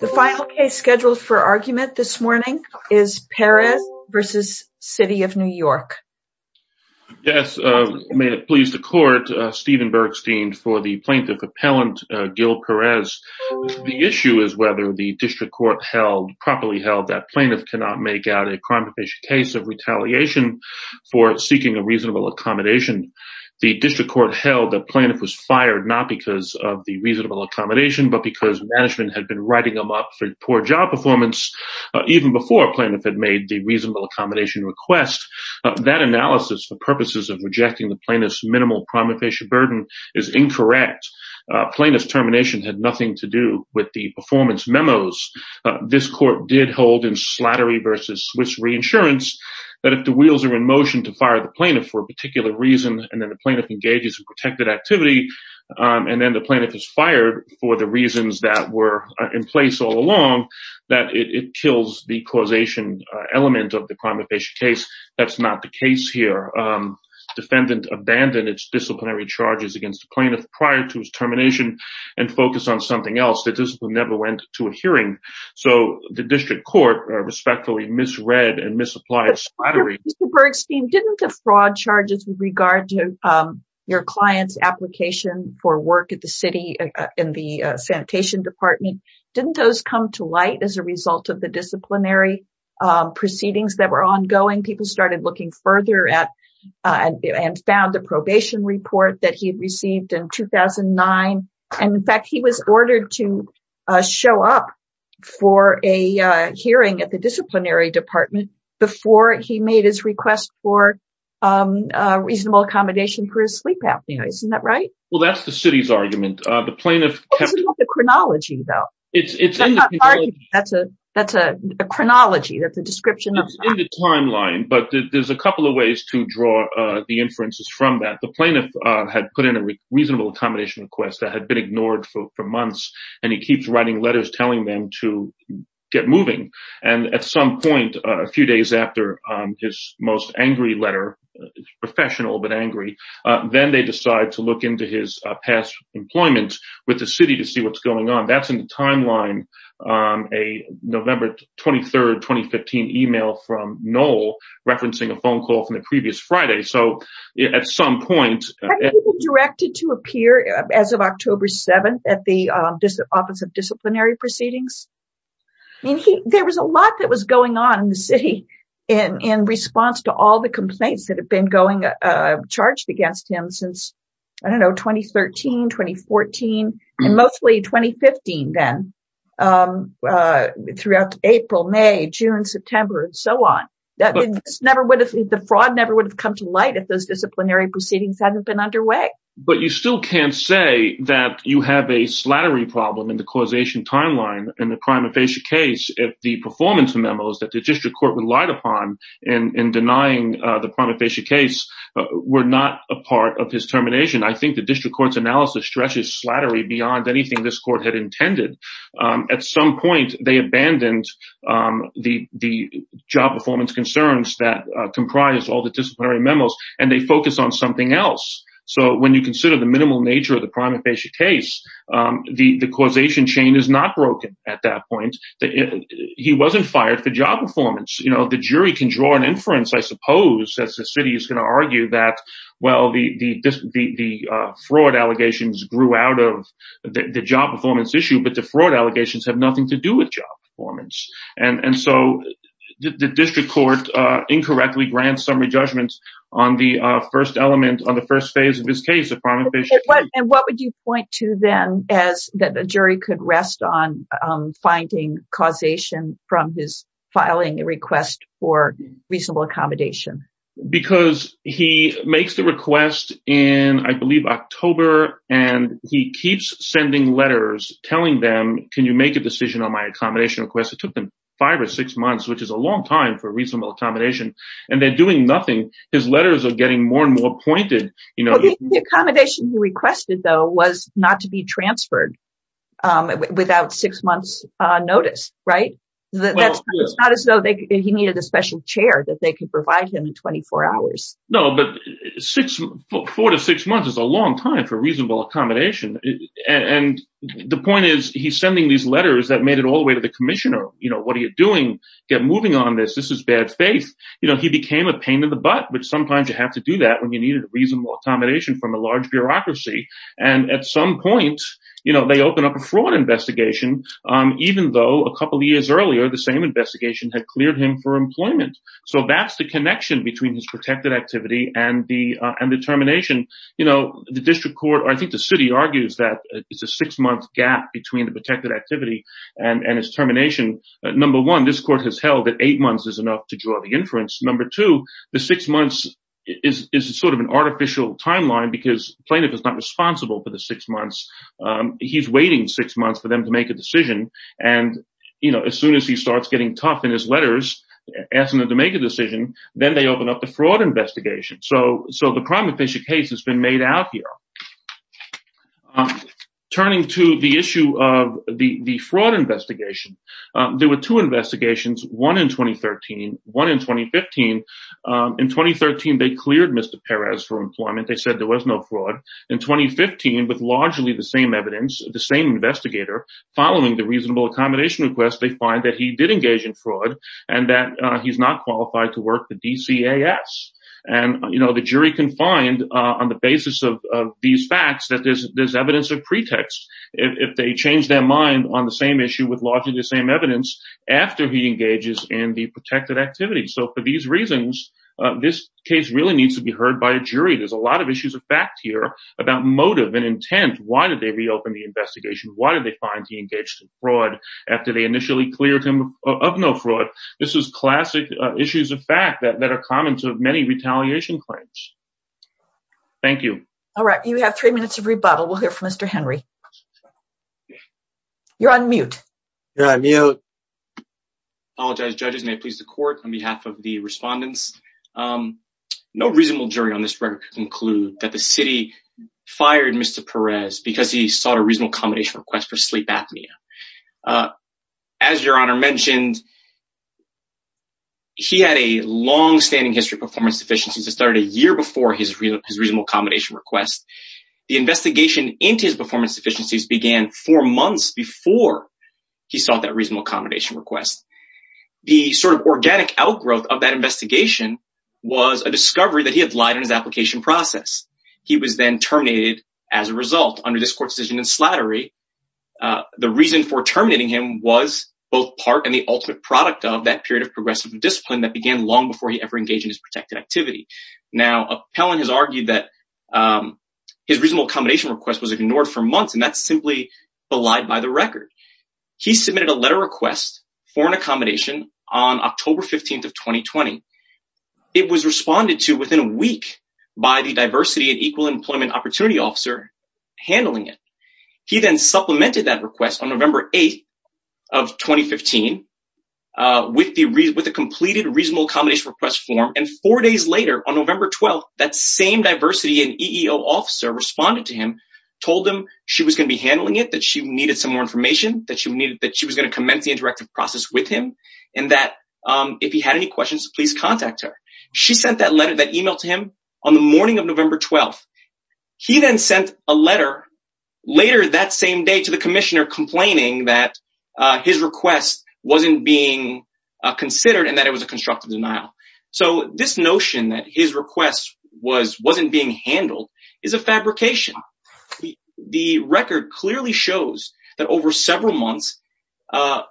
The final case scheduled for argument this morning is Perez v. City of New York. Yes, may it please the Court, Stephen Bergstein for the Plaintiff Appellant Gil Perez. The issue is whether the District Court held, properly held, that plaintiff cannot make out a crime prevention case of retaliation for seeking a reasonable accommodation. The District Court held that plaintiff was fired not because of the reasonable accommodation but because management had been writing him up for poor job performance even before a plaintiff had made the reasonable accommodation request. That analysis for purposes of rejecting the plaintiff's minimal primifacial burden is incorrect. Plaintiff's termination had nothing to do with the performance memos. This Court did hold in Slattery v. Swiss Reinsurance that if the wheels are in motion to fire the plaintiff for a particular reason and then the plaintiff engages in protected activity, and then the plaintiff is fired for the reasons that were in place all along, that it kills the causation element of the crime prevention case. That's not the case here. The defendant abandoned its disciplinary charges against the plaintiff prior to his termination and focused on something else. The discipline never went to a hearing, so the District Court respectfully misread and misapplied Slattery. Mr. Bergstein, didn't the fraud charges with regard to your client's application for work at the city in the sanitation department, didn't those come to light as a result of the disciplinary proceedings that were ongoing? People started looking further and found the probation report that he had received in 2009. In fact, he was ordered to show up for a hearing at the disciplinary department before he made his request for reasonable accommodation for his sleep apnea. Isn't that right? What about the chronology, though? That's a chronology, that's a description. It's in the timeline, but there's a couple of ways to draw the inferences from that. The plaintiff had put in a reasonable accommodation request that had been ignored for months, and he keeps writing letters telling them to get moving. And at some point, a few days after his most angry letter, professional but angry, then they decide to look into his past employment with the city to see what's going on. That's in the timeline, a November 23rd, 2015 email from Knoll referencing a phone call from the previous Friday. So at some point... Hadn't he been directed to appear as of October 7th at the Office of Disciplinary Proceedings? There was a lot that was going on in the city in response to all the complaints that have been charged against him since, I don't know, 2013, 2014, and mostly 2015 then. Throughout April, May, June, September, and so on. The fraud never would have come to light if those disciplinary proceedings hadn't been underway. But you still can't say that you have a slattery problem in the causation timeline in the prima facie case if the performance memos that the district court relied upon in denying the prima facie case were not a part of his termination. I think the district court's analysis stretches slattery beyond anything this court had intended. At some point, they abandoned the job performance concerns that comprise all the disciplinary memos, and they focused on something else. So when you consider the minimal nature of the prima facie case, the causation chain is not broken at that point. He wasn't fired for job performance. The jury can draw an inference, I suppose, as the city is going to argue that, well, the fraud allegations grew out of the job performance issue, but the fraud allegations have nothing to do with job performance. And so the district court incorrectly grants summary judgments on the first element, on the first phase of his case, the prima facie case. And what would you point to, then, as the jury could rest on finding causation from his filing a request for reasonable accommodation? Because he makes the request in, I believe, October, and he keeps sending letters telling them, can you make a decision on my accommodation request? It took them five or six months, which is a long time for reasonable accommodation, and they're doing nothing. His letters are getting more and more pointed. The accommodation he requested, though, was not to be transferred without six months' notice, right? It's not as though he needed a special chair that they could provide him in 24 hours. No, but four to six months is a long time for reasonable accommodation. And the point is, he's sending these letters that made it all the way to the commissioner. What are you doing? Get moving on this. This is bad faith. He became a pain in the butt, but sometimes you have to do that when you need a reasonable accommodation from a large bureaucracy. And at some point, they open up a fraud investigation, even though a couple of years earlier, the same investigation had cleared him for employment. So that's the connection between his protected activity and the termination. The district court, I think the city, argues that it's a six-month gap between the protected activity and his termination. Number one, this court has held that eight months is enough to draw the inference. Number two, the six months is sort of an artificial timeline because plaintiff is not responsible for the six months. He's waiting six months for them to make a decision. And, you know, as soon as he starts getting tough in his letters, asking them to make a decision, then they open up the fraud investigation. So the crime official case has been made out here. Turning to the issue of the fraud investigation, there were two investigations, one in 2013, one in 2015. In 2013, they cleared Mr. Perez for employment. They said there was no fraud. In 2015, with largely the same evidence, the same investigator following the reasonable accommodation request, they find that he did engage in fraud and that he's not qualified to work for DCAS. And, you know, the jury can find on the basis of these facts that there's evidence of pretext. If they change their mind on the same issue with largely the same evidence after he engages in the protected activity. So for these reasons, this case really needs to be heard by a jury. There's a lot of issues of fact here about motive and intent. Why did they reopen the investigation? Why did they find he engaged in fraud after they initially cleared him of no fraud? This is classic issues of fact that are common to many retaliation claims. Thank you. All right. You have three minutes of rebuttal. We'll hear from Mr. Henry. You're on mute. You're on mute. Apologize, judges, may it please the court on behalf of the respondents. No reasonable jury on this record can conclude that the city fired Mr. Perez because he sought a reasonable accommodation request for sleep apnea. As your honor mentioned. He had a long standing history of performance deficiencies. It started a year before his his reasonable accommodation request. The investigation into his performance deficiencies began four months before he saw that reasonable accommodation request. The sort of organic outgrowth of that investigation was a discovery that he had lied in his application process. He was then terminated as a result under this court decision and slattery. The reason for terminating him was both part and the ultimate product of that period of progressive discipline that began long before he ever engaged in his protected activity. Now, Appellant has argued that his reasonable accommodation request was ignored for months. And that's simply belied by the record. He submitted a letter request for an accommodation on October 15th of 2020. It was responded to within a week by the diversity and equal employment opportunity officer handling it. He then supplemented that request on November 8th of 2015 with the with the completed reasonable accommodation request form. And four days later, on November 12th, that same diversity and EEO officer responded to him, told him she was going to be handling it, that she needed some more information, that she needed, that she was going to commence the interactive process with him. And that if he had any questions, please contact her. She sent that letter that email to him on the morning of November 12th. He then sent a letter later that same day to the commissioner complaining that his request wasn't being considered and that it was a constructive denial. So this notion that his request was wasn't being handled is a fabrication. The record clearly shows that over several months, the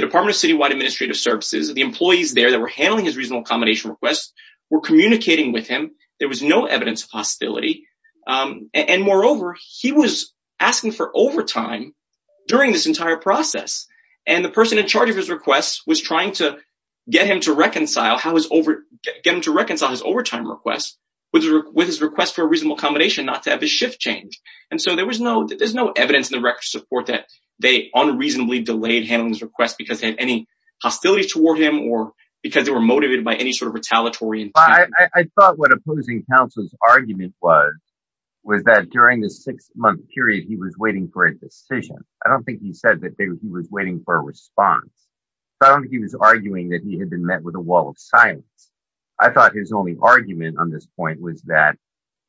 Department of Citywide Administrative Services, the employees there that were handling his reasonable accommodation requests were communicating with him. There was no evidence of hostility. And moreover, he was asking for overtime during this entire process. And the person in charge of his request was trying to get him to reconcile his overtime request with his request for a reasonable accommodation, not to have a shift change. And so there was no there's no evidence in the record support that they unreasonably delayed handling his request because they had any hostility toward him or because they were motivated by any sort of retaliatory. I thought what opposing counsel's argument was, was that during the six month period, he was waiting for a decision. I don't think he said that he was waiting for a response. I don't think he was arguing that he had been met with a wall of silence. I thought his only argument on this point was that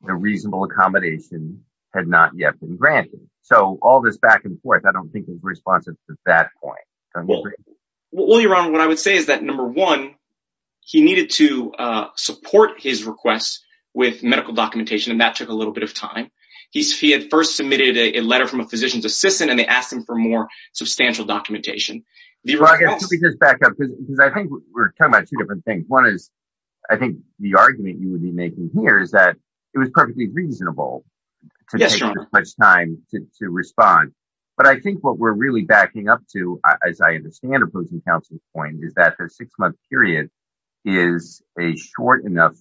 the reasonable accommodation had not yet been granted. So all this back and forth, I don't think is responsive to that point. Well, your honor, what I would say is that, number one, he needed to support his requests with medical documentation. And that took a little bit of time. He's he had first submitted a letter from a physician's assistant and they asked him for more substantial documentation. Because back up, because I think we're talking about two different things. One is, I think the argument you would be making here is that it was perfectly reasonable. Much time to respond. But I think what we're really backing up to, as I understand opposing counsel's point, is that the six month period is a short enough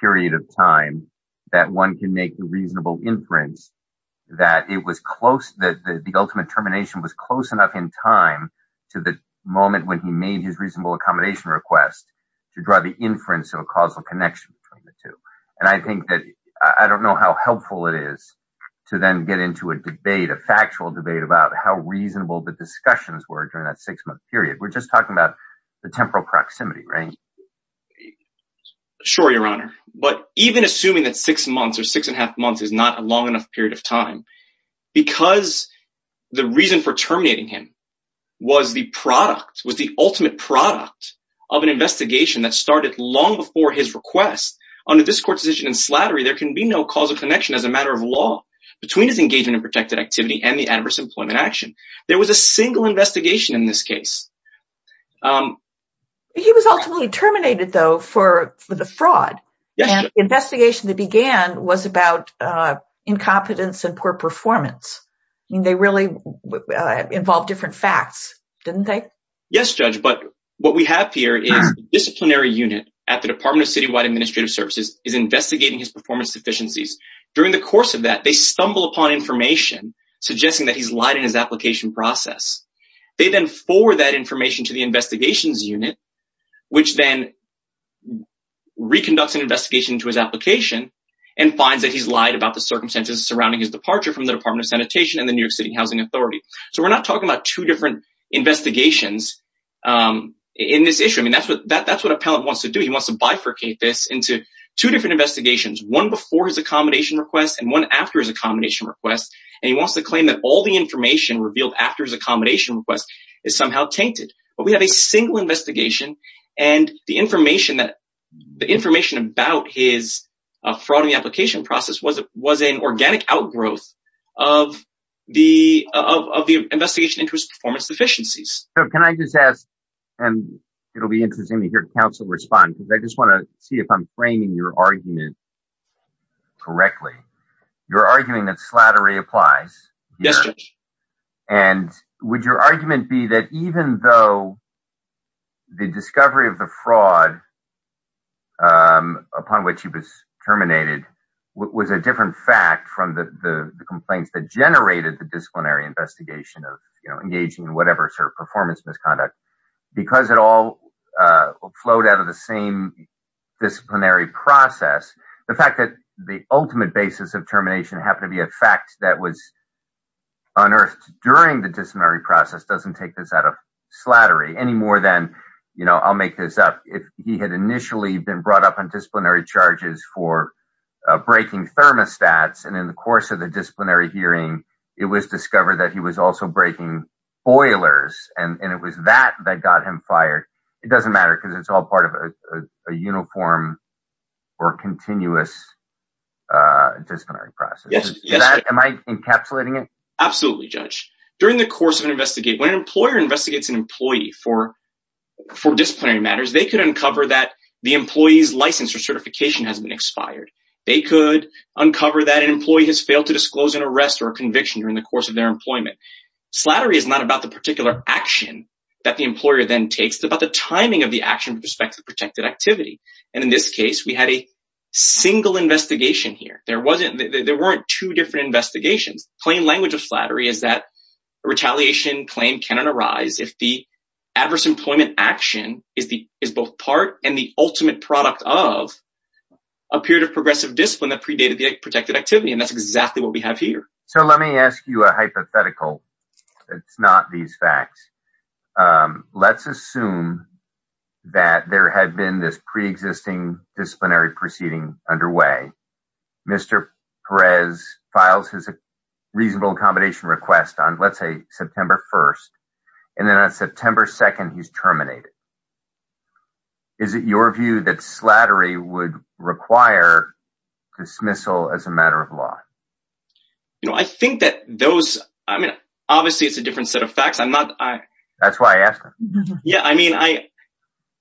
period of time that one can make a reasonable inference that it was close that the ultimate termination was close enough in time to the moment when he made his reasonable accommodation request to draw the inference of a causal connection. And I think that I don't know how helpful it is to then get into a debate, a factual debate about how reasonable the discussions were during that six month period. We're just talking about the temporal proximity, right? Sure, Your Honor. But even assuming that six months or six and a half months is not a long enough period of time, because the reason for terminating him was the product, was the ultimate product of an investigation that started long before his request. Under this court's decision in Slattery, there can be no causal connection as a matter of law between his engagement in protected activity and the adverse employment action. There was a single investigation in this case. He was ultimately terminated, though, for the fraud. Yes, Your Honor. And the investigation that began was about incompetence and poor performance. They really involved different facts, didn't they? Yes, Judge. But what we have here is a disciplinary unit at the Department of Citywide Administrative Services is investigating his performance deficiencies. During the course of that, they stumble upon information suggesting that he's lied in his application process. They then forward that information to the investigations unit, which then reconducts an investigation into his application and finds that he's lied about the circumstances surrounding his departure from the Department of Sanitation and the New York City Housing Authority. So we're not talking about two different investigations in this issue. I mean, that's what that that's what appellant wants to do. He wants to bifurcate this into two different investigations, one before his accommodation request and one after his accommodation request. And he wants to claim that all the information revealed after his accommodation request is somehow tainted. But we have a single investigation and the information that the information about his fraud in the application process was it was an organic outgrowth of the of the investigation into his performance deficiencies. So can I just ask, and it'll be interesting to hear counsel respond, because I just want to see if I'm framing your argument correctly. You're arguing that slattery applies. And would your argument be that even though the discovery of the fraud upon which he was terminated was a different fact from the complaints that generated the disciplinary investigation of engaging in whatever performance misconduct, because it all flowed out of the same disciplinary process. The fact that the ultimate basis of termination happened to be a fact that was unearthed during the disciplinary process doesn't take this out of slattery any more than, you know, I'll make this up. If he had initially been brought up on disciplinary charges for breaking thermostats and in the course of the disciplinary hearing, it was discovered that he was also breaking boilers and it was that that got him fired. It doesn't matter because it's all part of a uniform or continuous disciplinary process. Am I encapsulating it? Absolutely, Judge. During the course of an investigation, when an employer investigates an employee for disciplinary matters, they could uncover that the employee's license or certification has been expired. They could uncover that an employee has failed to disclose an arrest or conviction during the course of their employment. Slattery is not about the particular action that the employer then takes. It's about the timing of the action with respect to protected activity. And in this case, we had a single investigation here. There weren't two different investigations. Plain language of slattery is that retaliation claim cannot arise if the adverse employment action is both part and the ultimate product of a period of progressive discipline that predated the protected activity. And that's exactly what we have here. So let me ask you a hypothetical. It's not these facts. Let's assume that there had been this pre-existing disciplinary proceeding underway. Mr. Perez files his reasonable accommodation request on, let's say, September 1st. And then on September 2nd, he's terminated. Is it your view that slattery would require dismissal as a matter of law? You know, I think that those I mean, obviously, it's a different set of facts. I'm not. That's why I asked. Yeah. I mean, I.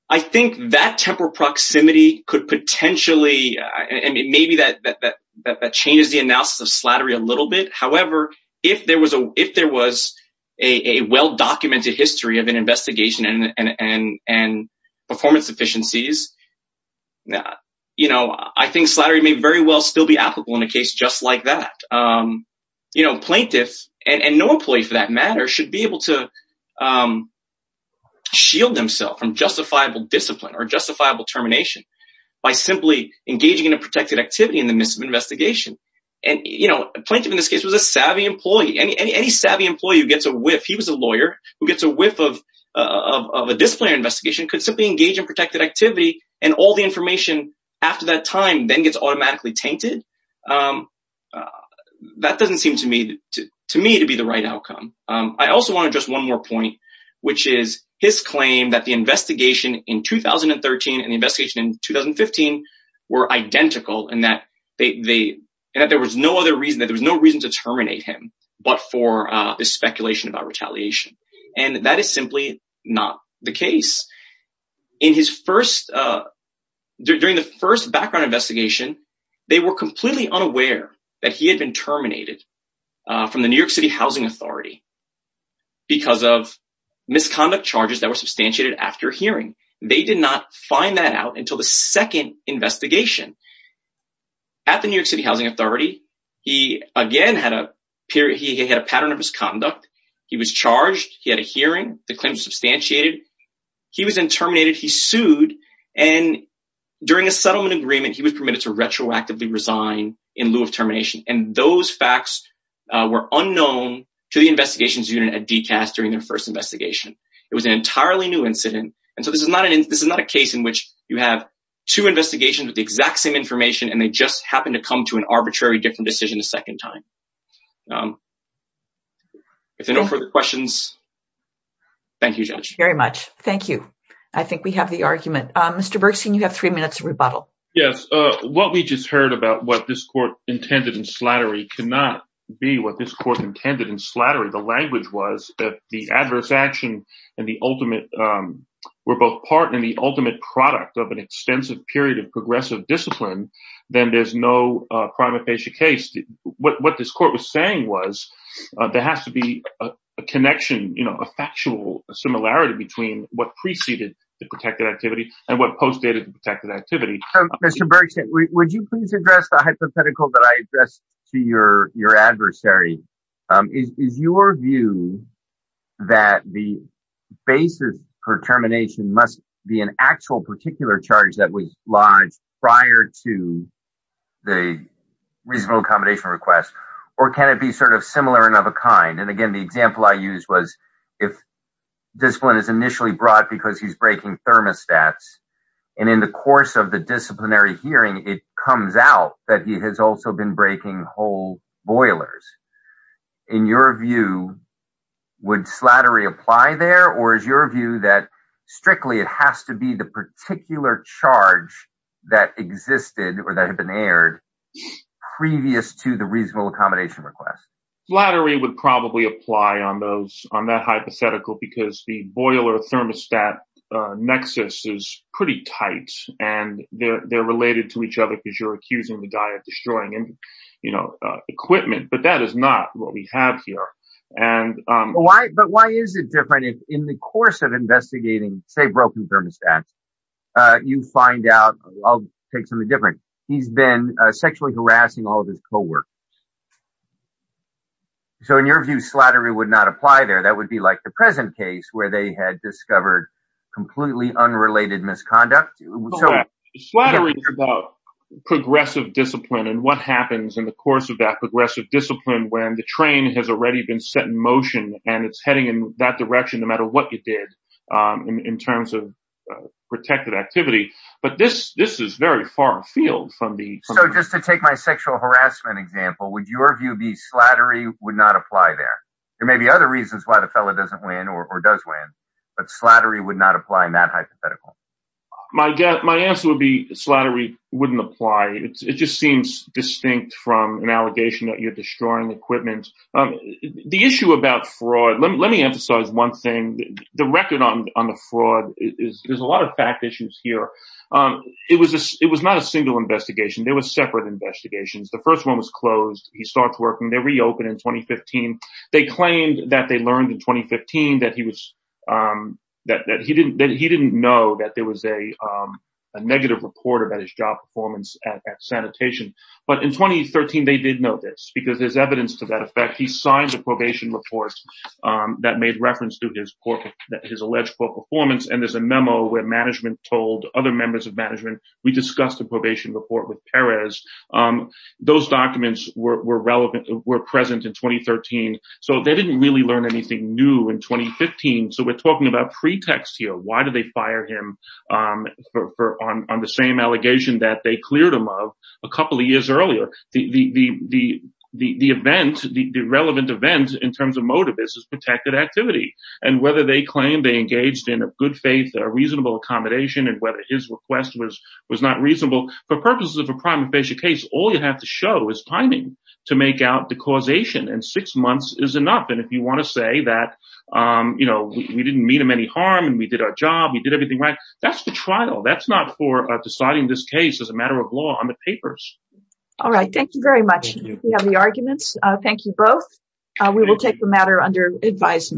I think that temporal proximity could potentially and maybe that that changes the analysis of slattery a little bit. However, if there was a if there was a well-documented history of an investigation and performance deficiencies, you know, I think slattery may very well still be applicable in a case just like that. You know, plaintiffs and no employee for that matter should be able to shield themselves from justifiable discipline or justifiable termination by simply engaging in a protected activity in the midst of investigation. And, you know, plenty of in this case was a savvy employee and any savvy employee who gets a whiff. He was a lawyer who gets a whiff of of a disciplinary investigation could simply engage in protected activity. And all the information after that time then gets automatically tainted. That doesn't seem to me to me to be the right outcome. I also want to just one more point, which is his claim that the investigation in 2013 and investigation in 2015 were identical and that they that there was no other reason that there was no reason to terminate him. But for the speculation about retaliation. And that is simply not the case. In his first during the first background investigation, they were completely unaware that he had been terminated from the New York City Housing Authority. Because of misconduct charges that were substantiated after hearing, they did not find that out until the second investigation. At the New York City Housing Authority, he again had a period he had a pattern of misconduct. He was charged. He had a hearing. The claims substantiated. He was in terminated. He sued. And during a settlement agreement, he was permitted to retroactively resign in lieu of termination. And those facts were unknown to the investigations unit at DCAS during their first investigation. It was an entirely new incident. And so this is not an this is not a case in which you have two investigations with the exact same information and they just happen to come to an arbitrary different decision. A second time. If there are no further questions. Thank you very much. Thank you. I think we have the argument. Mr. Bergstein, you have three minutes rebuttal. Yes. What we just heard about what this court intended and slattery cannot be what this court intended and slattery. The language was that the adverse action and the ultimate were both part and the ultimate product of an extensive period of progressive discipline. Then there's no prima facie case. What this court was saying was there has to be a connection, you know, a factual similarity between what preceded the protected activity and what postdated the protected activity. Mr. Bergstein, would you please address the hypothetical that I addressed to your your adversary? Is your view that the basis for termination must be an actual particular charge that was lodged prior to the reasonable accommodation request, or can it be sort of similar and of a kind? And again, the example I used was if discipline is initially brought because he's breaking thermostats and in the course of the disciplinary hearing, it comes out that he has also been breaking whole boilers. In your view, would slattery apply there or is your view that strictly it has to be the particular charge that existed or that had been aired previous to the reasonable accommodation request? Slattery would probably apply on that hypothetical because the boiler thermostat nexus is pretty tight and they're related to each other because you're accusing the guy of destroying equipment. But that is not what we have here. And why but why is it different in the course of investigating, say, broken thermostats? You find out I'll take something different. He's been sexually harassing all of his co-workers. So in your view, slattery would not apply there. That would be like the present case where they had discovered completely unrelated misconduct. Slattery is about progressive discipline and what happens in the course of that progressive discipline when the train has already been set in motion and it's heading in that direction no matter what you did in terms of protected activity. But this this is very far afield from the. So just to take my sexual harassment example, would your view be slattery would not apply there? There may be other reasons why the fellow doesn't win or does win, but slattery would not apply in that hypothetical. My guess my answer would be slattery wouldn't apply. It just seems distinct from an allegation that you're destroying equipment. The issue about fraud. Let me emphasize one thing. The record on the fraud is there's a lot of fact issues here. It was it was not a single investigation. There was separate investigations. The first one was closed. He starts working. They reopened in 2015. They claimed that they learned in 2015 that he was that he didn't that he didn't know that there was a negative report about his job performance at sanitation. But in 2013, they did know this because there's evidence to that effect. He signed the probation report that made reference to his alleged poor performance. And there's a memo where management told other members of management. We discussed the probation report with Perez. Those documents were relevant, were present in 2013. So they didn't really learn anything new in 2015. So we're talking about pretext here. Why did they fire him for on the same allegation that they cleared him of a couple of years earlier? The the the the the event, the relevant events in terms of motive is protected activity. And whether they claim they engaged in a good faith or reasonable accommodation and whether his request was was not reasonable for purposes of a crime. Fascia case, all you have to show is timing to make out the causation and six months is enough. And if you want to say that, you know, we didn't mean him any harm and we did our job, we did everything right. That's the trial. That's not for deciding this case as a matter of law on the papers. All right. Thank you very much. We have the arguments. Thank you both. We will take the matter under advisement.